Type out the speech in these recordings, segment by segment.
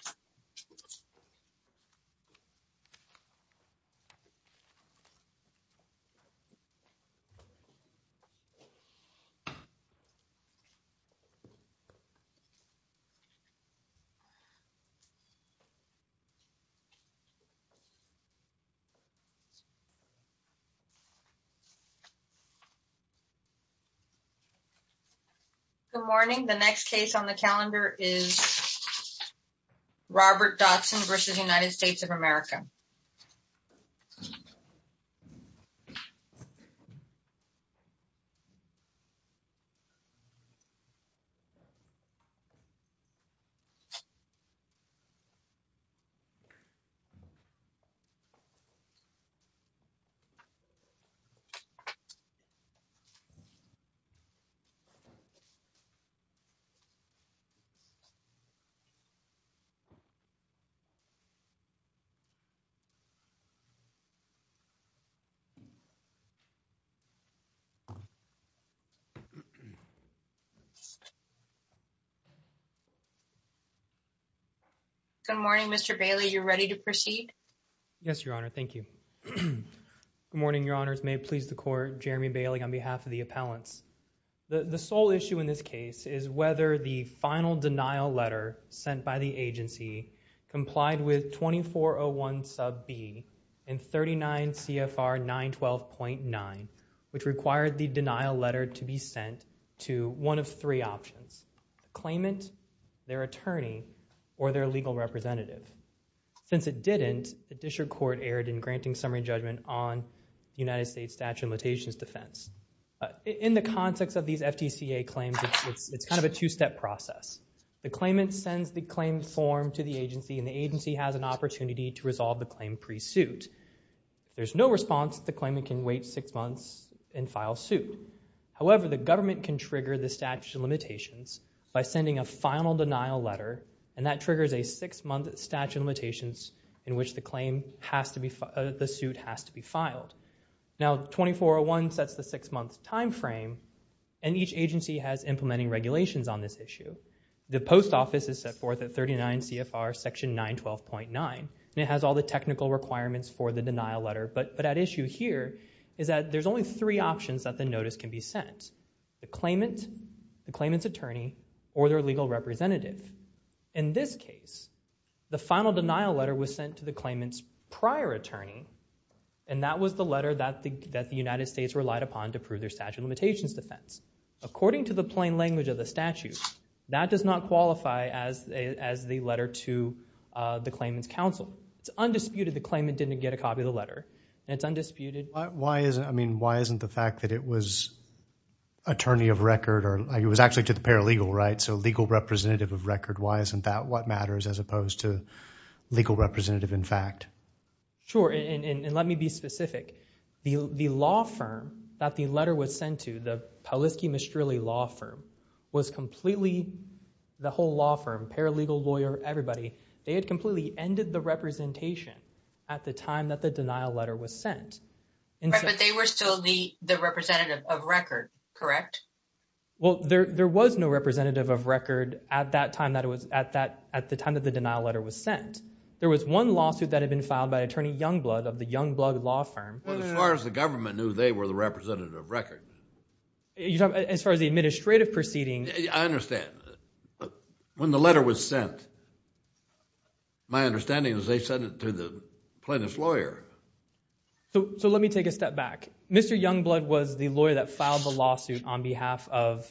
Good morning, everyone. Good morning. Good morning. Good morning. The next case on the calendar is Robert Dotson versus United States of America. Good morning, everyone. Good morning, everyone. Good morning, Mr. Bailey. You're ready to proceed? Yes, Your Honor. Thank you. Good morning, Your Honors. May it please the Court, Jeremy Bailey on behalf of the appellants. The sole issue in this case is whether the final denial letter sent by the agency complied with 2401 sub B and 39 CFR 912.9, which required the denial letter to be sent to one of three options, the claimant, their attorney, or their legal representative. Since it didn't, the district court erred in granting summary judgment on United States statute of limitations defense. In the context of these FTCA claims, it's kind of a two-step process. The claimant sends the claim form to the agency, and the agency has an opportunity to resolve the claim pre-suit. If there's no response, the claimant can wait six months and file suit. However, the government can trigger the statute of limitations by sending a final denial letter, and that triggers a six-month statute of limitations in which the suit has to be filed. Now, 2401 sets the six-month time frame, and each agency has implementing regulations on this issue. The post office is set forth at 39 CFR section 912.9, and it has all the technical requirements for the denial letter. But at issue here is that there's only three options that the notice can be sent, the claimant, the claimant's attorney, or their legal representative. In this case, the final denial letter was sent to the claimant's prior attorney, and that was the letter that the United States relied upon to prove their statute of limitations defense. According to the plain language of the statute, that does not qualify as the letter to the claimant's counsel. It's undisputed the claimant didn't get a copy of the letter, and it's undisputed. Why isn't the fact that it was attorney of record, or it was actually to the paralegal, right? So legal representative of record, why isn't that what matters as opposed to legal representative in fact? Sure, and let me be specific. The law firm that the letter was sent to, the Polisky-Mistrelli Law Firm, was completely, the whole law firm, paralegal, lawyer, everybody, they had completely ended the representation at the time that the denial letter was sent. But they were still the representative of record, correct? Well, there was no representative of record at the time that the denial letter was sent. There was one lawsuit that had been filed by attorney Youngblood of the Youngblood Law Firm. As far as the government knew, they were the representative of record. As far as the administrative proceeding. I understand. When the letter was sent, my understanding is they sent it to the plaintiff's lawyer. So let me take a step back. Mr. Youngblood was the lawyer that filed the lawsuit on behalf of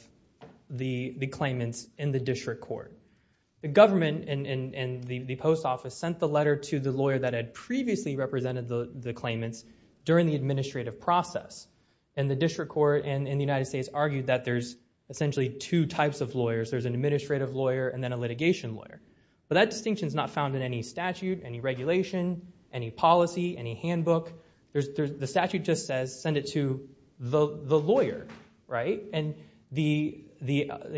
the claimants in the district court. The government and the post office sent the letter to the lawyer that had previously represented the claimants during the administrative process. And the district court and the United States argued that there's essentially two types of lawyers. There's an administrative lawyer and then a litigation lawyer. But that distinction is not found in any statute, any regulation, any policy, any handbook. The statute just says send it to the lawyer, right? And the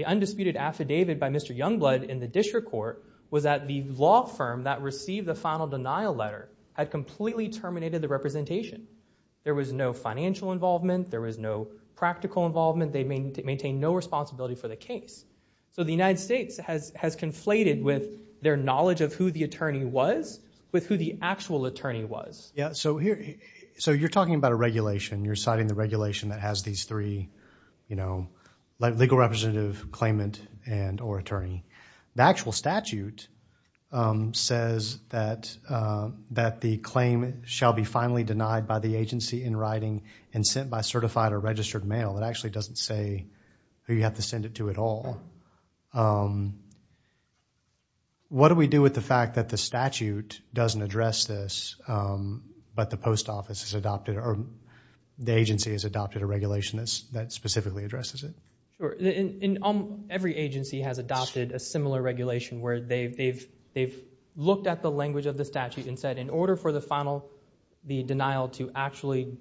undisputed affidavit by Mr. Youngblood in the district court was that the law firm that received the final denial letter had completely terminated the representation. There was no financial involvement. There was no practical involvement. They maintained no responsibility for the case. So the United States has conflated with their knowledge of who the attorney was with who the actual attorney was. So you're talking about a regulation. You're citing the regulation that has these three, you know, legal representative, claimant, and or attorney. The actual statute says that the claim shall be finally denied by the agency in writing and sent by certified or registered mail. It actually doesn't say who you have to send it to at all. What do we do with the fact that the statute doesn't address this but the post office has adopted or the agency has adopted a regulation that specifically addresses it? Sure. Every agency has adopted a similar regulation where they've looked at the language of the statute and said in order for the denial to actually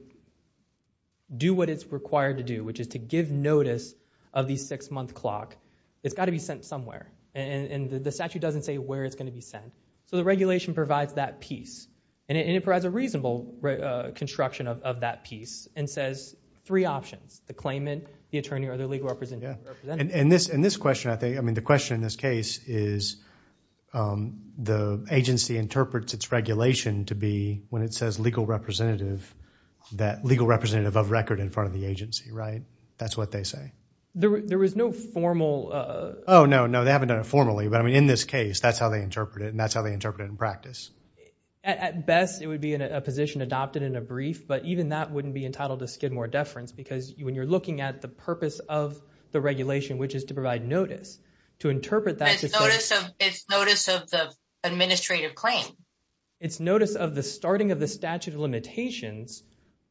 do what it's required to do, which is to give notice of the six-month clock, it's got to be sent somewhere. And the statute doesn't say where it's going to be sent. So the regulation provides that piece. And it provides a reasonable construction of that piece and says three options, the claimant, the attorney, or the legal representative. And this question, I think, I mean the question in this case is the agency interprets its regulation to be when it says legal representative, that legal representative of record in front of the agency, right? That's what they say. There was no formal. Oh, no, no. They haven't done it formally. But I mean in this case, that's how they interpret it and that's how they interpret it in practice. But even that wouldn't be entitled to Skidmore deference because when you're looking at the purpose of the regulation, which is to provide notice, to interpret that. It's notice of the administrative claim. It's notice of the starting of the statute of limitations.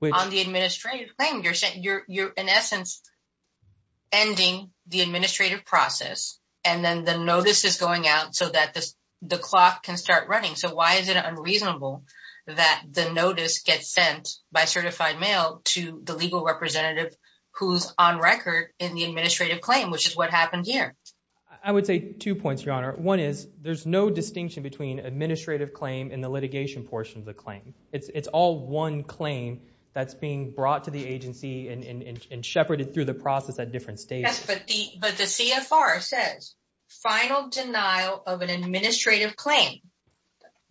On the administrative claim, you're in essence ending the administrative process. And then the notice is going out so that the clock can start running. So why is it unreasonable that the notice gets sent by certified mail to the legal representative who's on record in the administrative claim, which is what happened here? I would say two points, Your Honor. One is there's no distinction between administrative claim and the litigation portion of the claim. It's all one claim that's being brought to the agency and shepherded through the process at different stages. Yes, but the CFR says final denial of an administrative claim.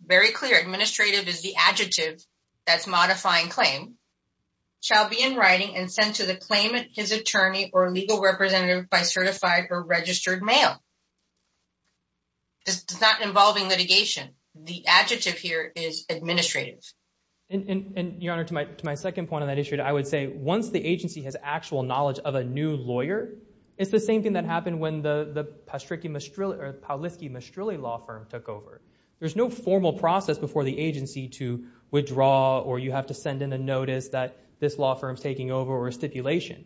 Very clear. Administrative is the adjective that's modifying claim, shall be in writing and sent to the claimant, his attorney, or legal representative by certified or registered mail. It's not involving litigation. The adjective here is administrative. And, Your Honor, to my second point on that issue, I would say once the agency has actual knowledge of a new lawyer, it's the same thing that happened when the Pauliski-Mastrilli law firm took over. There's no formal process before the agency to withdraw or you have to send in a notice that this law firm's taking over or a stipulation.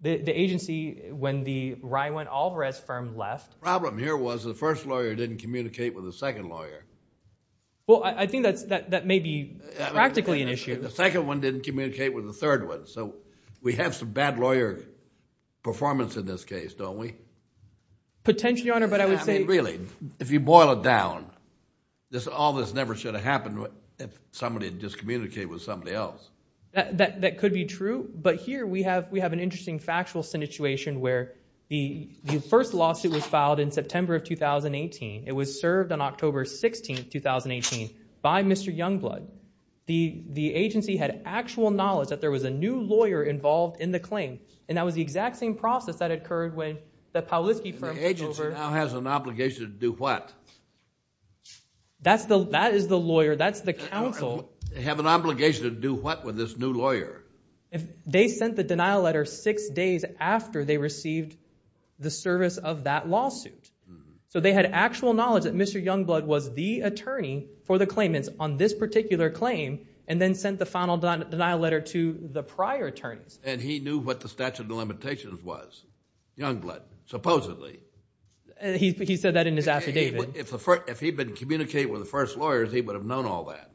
The agency, when the Rywin-Alvarez firm left… The problem here was the first lawyer didn't communicate with the second lawyer. Well, I think that may be practically an issue. The second one didn't communicate with the third one. So we have some bad lawyer performance in this case, don't we? Potentially, Your Honor, but I would say… Really, if you boil it down, all this never should have happened if somebody had just communicated with somebody else. That could be true, but here we have an interesting factual situation where the first lawsuit was filed in September of 2018. It was served on October 16, 2018 by Mr. Youngblood. The agency had actual knowledge that there was a new lawyer involved in the claim, and that was the exact same process that occurred when the Pauliski firm took over. The agency now has an obligation to do what? That is the lawyer. That's the counsel. They have an obligation to do what with this new lawyer? They sent the denial letter six days after they received the service of that lawsuit. So they had actual knowledge that Mr. Youngblood was the attorney for the claimants on this particular claim and then sent the final denial letter to the prior attorneys. And he knew what the statute of limitations was, Youngblood, supposedly. He said that in his affidavit. If he had been communicating with the first lawyers, he would have known all that.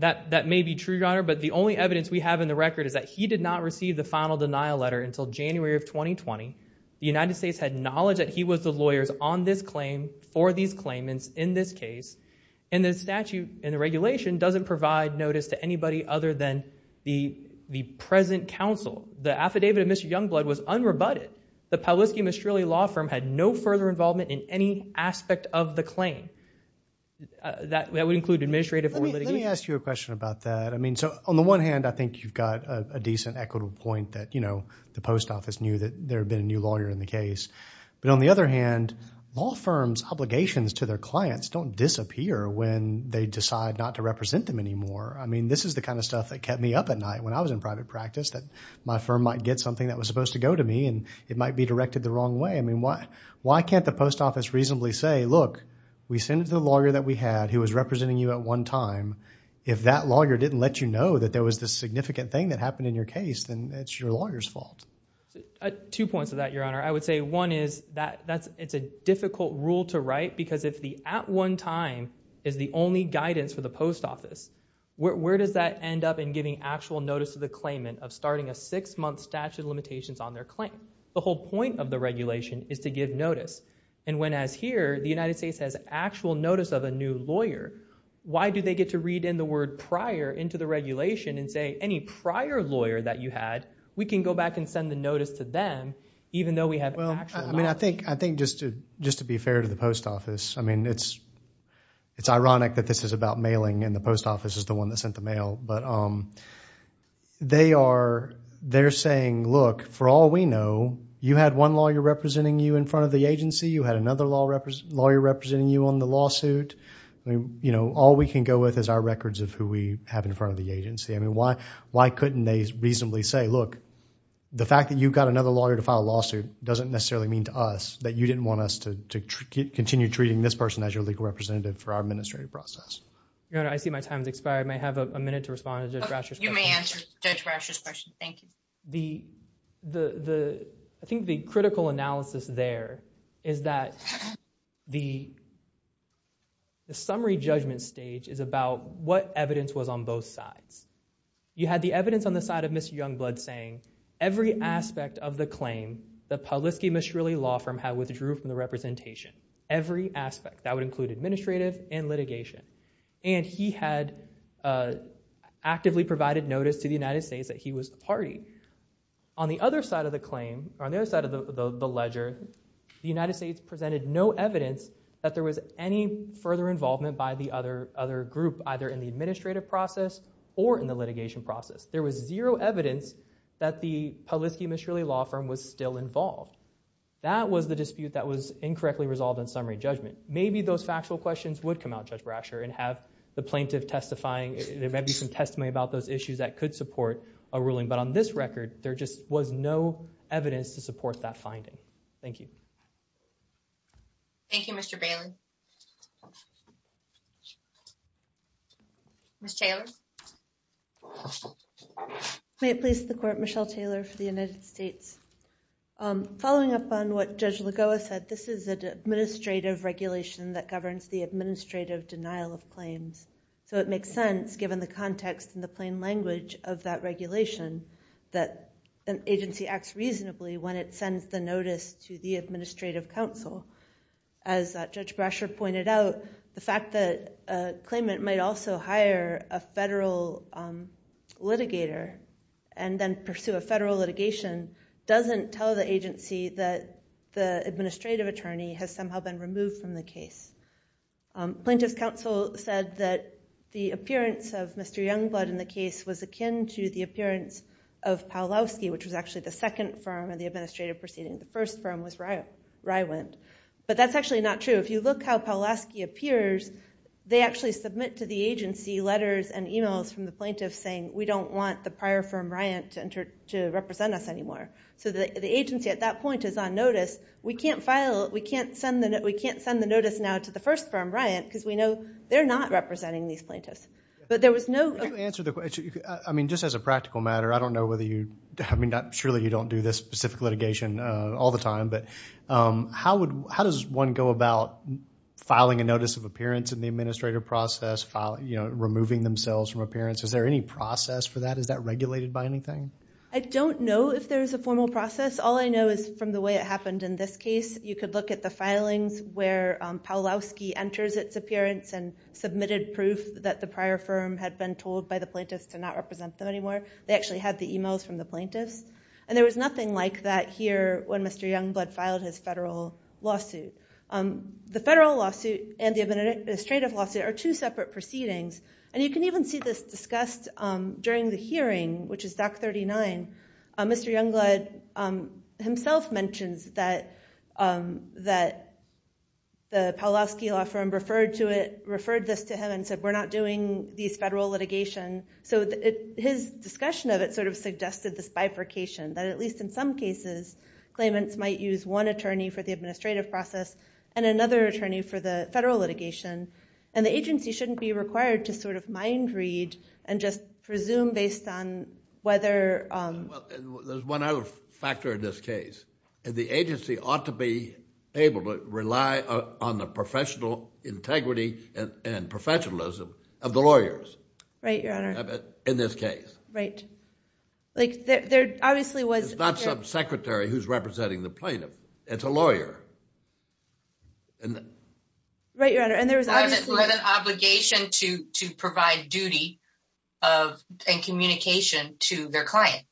That may be true, Your Honor, but the only evidence we have in the record is that he did not receive the final denial letter until January of 2020. The United States had knowledge that he was the lawyers on this claim for these claimants in this case, and the statute and the regulation doesn't provide notice to anybody other than the present counsel. The affidavit of Mr. Youngblood was unrebutted. The Pauliski-Mistrilli law firm had no further involvement in any aspect of the claim. That would include administrative or litigation. Let me ask you a question about that. I mean, so on the one hand, I think you've got a decent, equitable point that, you know, the post office knew that there had been a new lawyer in the case. But on the other hand, law firms' obligations to their clients don't disappear when they decide not to represent them anymore. I mean, this is the kind of stuff that kept me up at night when I was in private practice, that my firm might get something that was supposed to go to me and it might be directed the wrong way. I mean, why can't the post office reasonably say, look, we sent it to the lawyer that we had who was representing you at one time. If that lawyer didn't let you know that there was this significant thing that happened in your case, then it's your lawyer's fault. Two points to that, Your Honor. I would say one is that it's a difficult rule to write because if the at one time is the only guidance for the post office, where does that end up in giving actual notice to the claimant of starting a six-month statute of limitations on their claim? The whole point of the regulation is to give notice. And when, as here, the United States has actual notice of a new lawyer, why do they get to read in the word prior into the regulation and say, any prior lawyer that you had, we can go back and send the notice to them, even though we have actual notice. I mean, I think just to be fair to the post office, I mean, it's ironic that this is about mailing and the post office is the one that sent the mail. But they are saying, look, for all we know, you had one lawyer representing you in front of the agency. You had another lawyer representing you on the lawsuit. All we can go with is our records of who we have in front of the agency. I mean, why couldn't they reasonably say, look, the fact that you've got another lawyer to file a lawsuit doesn't necessarily mean to us that you didn't want us to continue treating this person as your legal representative for our administrative process. Your Honor, I see my time has expired. May I have a minute to respond to Judge Brasher's question? You may answer Judge Brasher's question. Thank you. I think the critical analysis there is that the summary judgment stage is about what evidence was on both sides. You had the evidence on the side of Mr. Youngblood saying every aspect of the claim that Pawlisky Mishrilli Law Firm had withdrew from the representation, every aspect, that would include administrative and litigation. And he had actively provided notice to the United States that he was the party. On the other side of the claim, or on the other side of the ledger, the United States presented no evidence that there was any further involvement by the other group, either in the administrative process or in the litigation process. There was zero evidence that the Pawlisky Mishrilli Law Firm was still involved. That was the dispute that was incorrectly resolved in summary judgment. Maybe those factual questions would come out, Judge Brasher, and have the plaintiff testifying. There might be some testimony about those issues that could support a ruling. But on this record, there just was no evidence to support that finding. Thank you. Thank you, Mr. Bailey. Ms. Taylor? May it please the Court, Michelle Taylor for the United States. Following up on what Judge Lagoa said, this is an administrative regulation that governs the administrative denial of claims. So it makes sense, given the context and the plain language of that regulation, that an agency acts reasonably when it sends the notice to the administrative counsel. As Judge Brasher pointed out, the fact that a claimant might also hire a federal litigator and then pursue a federal litigation doesn't tell the agency that the administrative attorney has somehow been removed from the case. Plaintiff's counsel said that the appearance of Mr. Youngblood in the case was akin to the appearance of Pawlowski, which was actually the second firm in the administrative proceeding. The first firm was Rywind. But that's actually not true. If you look how Pawlowski appears, they actually submit to the agency letters and e-mails from the plaintiffs saying, we don't want the prior firm, Ryan, to represent us anymore. So the agency at that point is on notice. We can't send the notice now to the first firm, Ryan, because we know they're not representing these plaintiffs. To answer the question, I mean, just as a practical matter, I don't know whether you, I mean, surely you don't do this specific litigation all the time, but how does one go about filing a notice of appearance in the administrative process, removing themselves from appearance? Is there any process for that? Is that regulated by anything? I don't know if there's a formal process. All I know is from the way it happened in this case, you could look at the filings where Pawlowski enters its appearance and submitted proof that the prior firm had been told by the plaintiffs to not represent them anymore. They actually had the e-mails from the plaintiffs, and there was nothing like that here when Mr. Youngblood filed his federal lawsuit. The federal lawsuit and the administrative lawsuit are two separate proceedings, and you can even see this discussed during the hearing, which is Doc 39. Mr. Youngblood himself mentions that the Pawlowski law firm referred this to him and said we're not doing these federal litigation. So his discussion of it sort of suggested this bifurcation, that at least in some cases claimants might use one attorney for the administrative process and another attorney for the federal litigation, and the agency shouldn't be required to sort of mind read and just presume based on whether. Well, there's one other factor in this case. The agency ought to be able to rely on the professional integrity and professionalism of the lawyers. Right, Your Honor. In this case. Right. Like there obviously was. It's not some secretary who's representing the plaintiff. It's a lawyer. Right, Your Honor. It was an obligation to provide duty and communication to their client.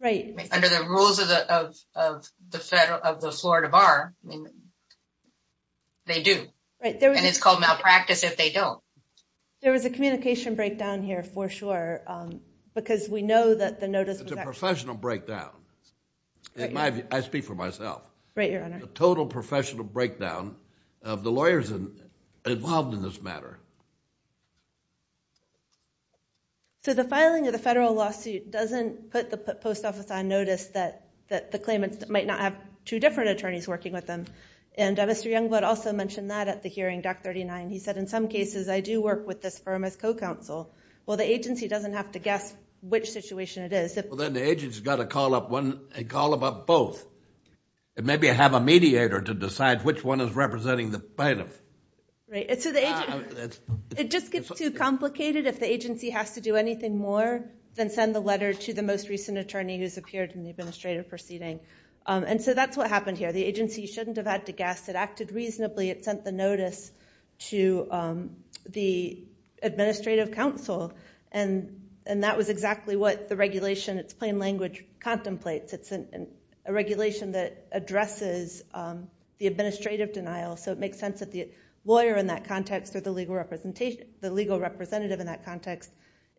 Right. Under the rules of the Florida Bar, they do. And it's called malpractice if they don't. There was a communication breakdown here for sure because we know that the notice. It's a professional breakdown. In my view, I speak for myself. Right, Your Honor. It's a total professional breakdown of the lawyers involved in this matter. So the filing of the federal lawsuit doesn't put the post office on notice that the claimants might not have two different attorneys working with them. And Mr. Youngblood also mentioned that at the hearing, Doc 39. He said, in some cases, I do work with this firm as co-counsel. Well, the agency doesn't have to guess which situation it is. Well, then the agency's got to call up both. And maybe have a mediator to decide which one is representing the plaintiff. Right. It just gets too complicated if the agency has to do anything more than send the letter to the most recent attorney who's appeared in the administrative proceeding. And so that's what happened here. The agency shouldn't have had to guess. It acted reasonably. It sent the notice to the administrative counsel. And that was exactly what the regulation, its plain language, contemplates. It's a regulation that addresses the administrative denial. So it makes sense that the lawyer in that context or the legal representative in that context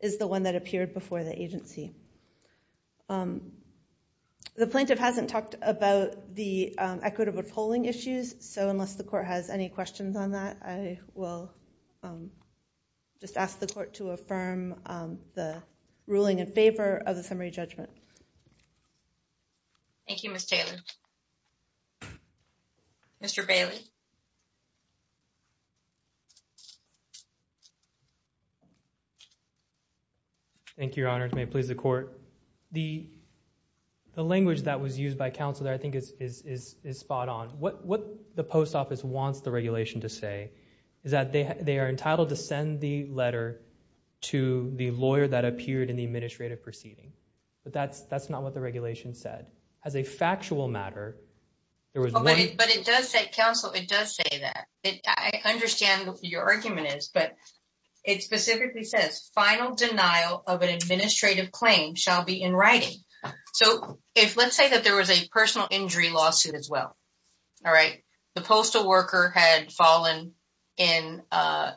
is the one that appeared before the agency. The plaintiff hasn't talked about the equitable polling issues. So unless the court has any questions on that, I will just ask the court to affirm the ruling in favor of the summary judgment. Thank you, Ms. Taylor. Mr. Bailey. Thank you, Your Honor. May it please the court. The language that was used by counsel there I think is spot on. What the post office wants the regulation to say is that they are entitled to send the letter to the lawyer that appeared in the administrative proceeding. But that's not what the regulation said. As a factual matter, there was one- But it does say, counsel, it does say that. I understand what your argument is, but it specifically says, final denial of an administrative claim shall be in writing. So let's say that there was a personal injury lawsuit as well. All right. The postal worker had fallen in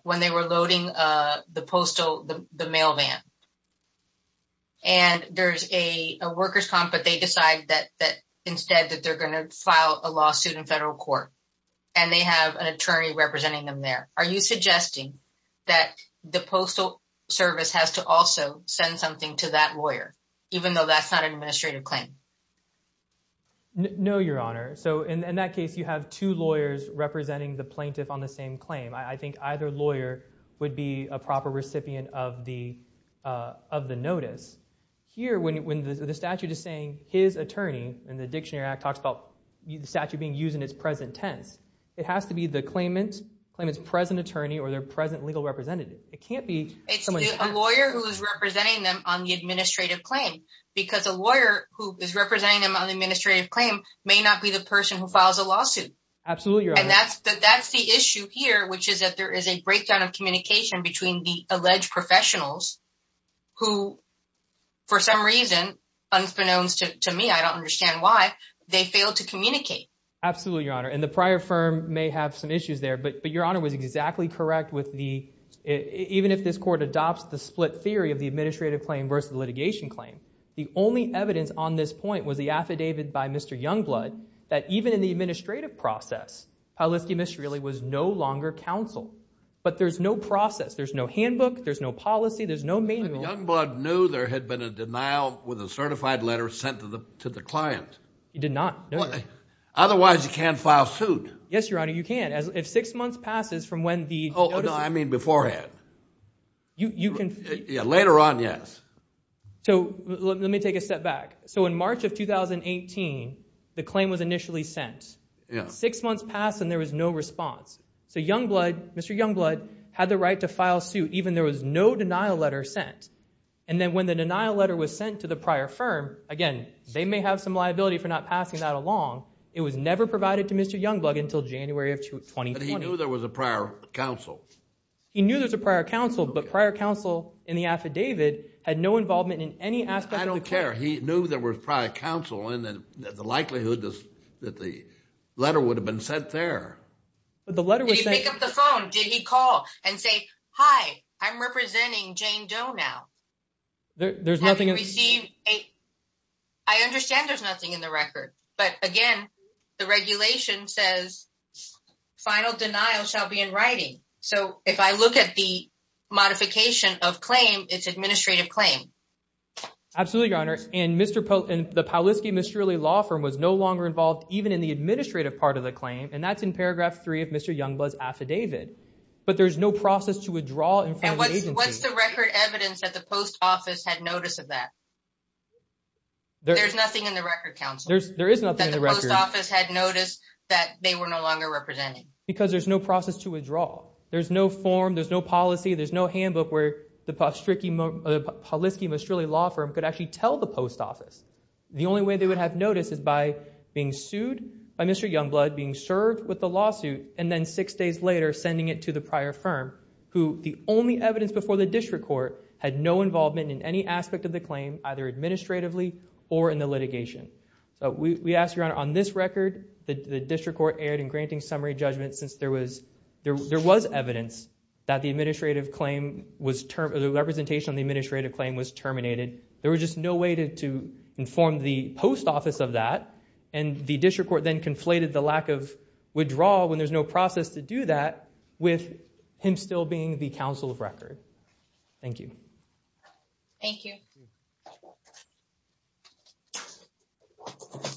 when they were loading the mail van. And there's a worker's comp, but they decide that instead that they're going to file a lawsuit in federal court. And they have an attorney representing them there. Are you suggesting that the postal service has to also send something to that lawyer, even though that's not an administrative claim? No, Your Honor. So in that case, you have two lawyers representing the plaintiff on the same claim. I think either lawyer would be a proper recipient of the notice. Here, when the statute is saying his attorney, and the Dictionary Act talks about the statute being used in its present tense, it has to be the claimant's present attorney or their present legal representative. It's a lawyer who is representing them on the administrative claim because a lawyer who is representing them on the administrative claim may not be the person who files a lawsuit. Absolutely, Your Honor. And that's the issue here, which is that there is a breakdown of communication between the alleged professionals who, for some reason, unbeknownst to me, I don't understand why, they failed to communicate. Absolutely, Your Honor. And the prior firm may have some issues there, but Your Honor was exactly correct with the, even if this Court adopts the split theory of the administrative claim versus the litigation claim, the only evidence on this point was the affidavit by Mr. Youngblood that even in the administrative process, Paulisti Mistry was no longer counsel. But there's no process. There's no handbook. There's no policy. There's no manual. Youngblood knew there had been a denial with a certified letter sent to the client. He did not. Otherwise, you can't file suit. Yes, Your Honor, you can. If six months passes from when the notice was sent... Oh, no, I mean beforehand. You can... Yeah, later on, yes. So let me take a step back. So in March of 2018, the claim was initially sent. Six months passed and there was no response. So Youngblood, Mr. Youngblood, had the right to file suit even there was no denial letter sent. And then when the denial letter was sent to the prior firm, again, they may have some liability for not passing that along. It was never provided to Mr. Youngblood until January of 2020. But he knew there was a prior counsel. He knew there was a prior counsel, but prior counsel in the affidavit had no involvement in any aspect... I don't care. He knew there was prior counsel and the likelihood that the letter would have been sent there. But the letter was sent... Did he pick up the phone? Did he call and say, Hi, I'm representing Jane Doe now? There's nothing... Have you received a... I understand there's nothing in the record. But again, the regulation says, final denial shall be in writing. So if I look at the modification of claim, it's administrative claim. Absolutely, Your Honor. And the Pawliski-Mistrilli law firm was no longer involved even in the administrative part of the claim. And that's in paragraph three of Mr. Youngblood's affidavit. But there's no process to withdraw in front of the agency. And what's the record evidence that the post office had notice of that? There's nothing in the record, counsel. There is nothing in the record. That the post office had notice that they were no longer representing. Because there's no process to withdraw. There's no form. There's no policy. There's no handbook where the Pawliski-Mistrilli law firm could actually tell the post office. The only way they would have notice is by being sued by Mr. Youngblood, being served with the lawsuit, and then six days later sending it to the prior firm, who the only evidence before the district court had no involvement in any aspect of the claim, either administratively or in the litigation. So we ask, Your Honor, on this record, the district court erred in granting summary judgment since there was evidence that the administrative claim was terminated. The representation on the administrative claim was terminated. There was just no way to inform the post office of that. And the district court then conflated the lack of withdrawal, with him still being the counsel of record. Thank you. Thank you.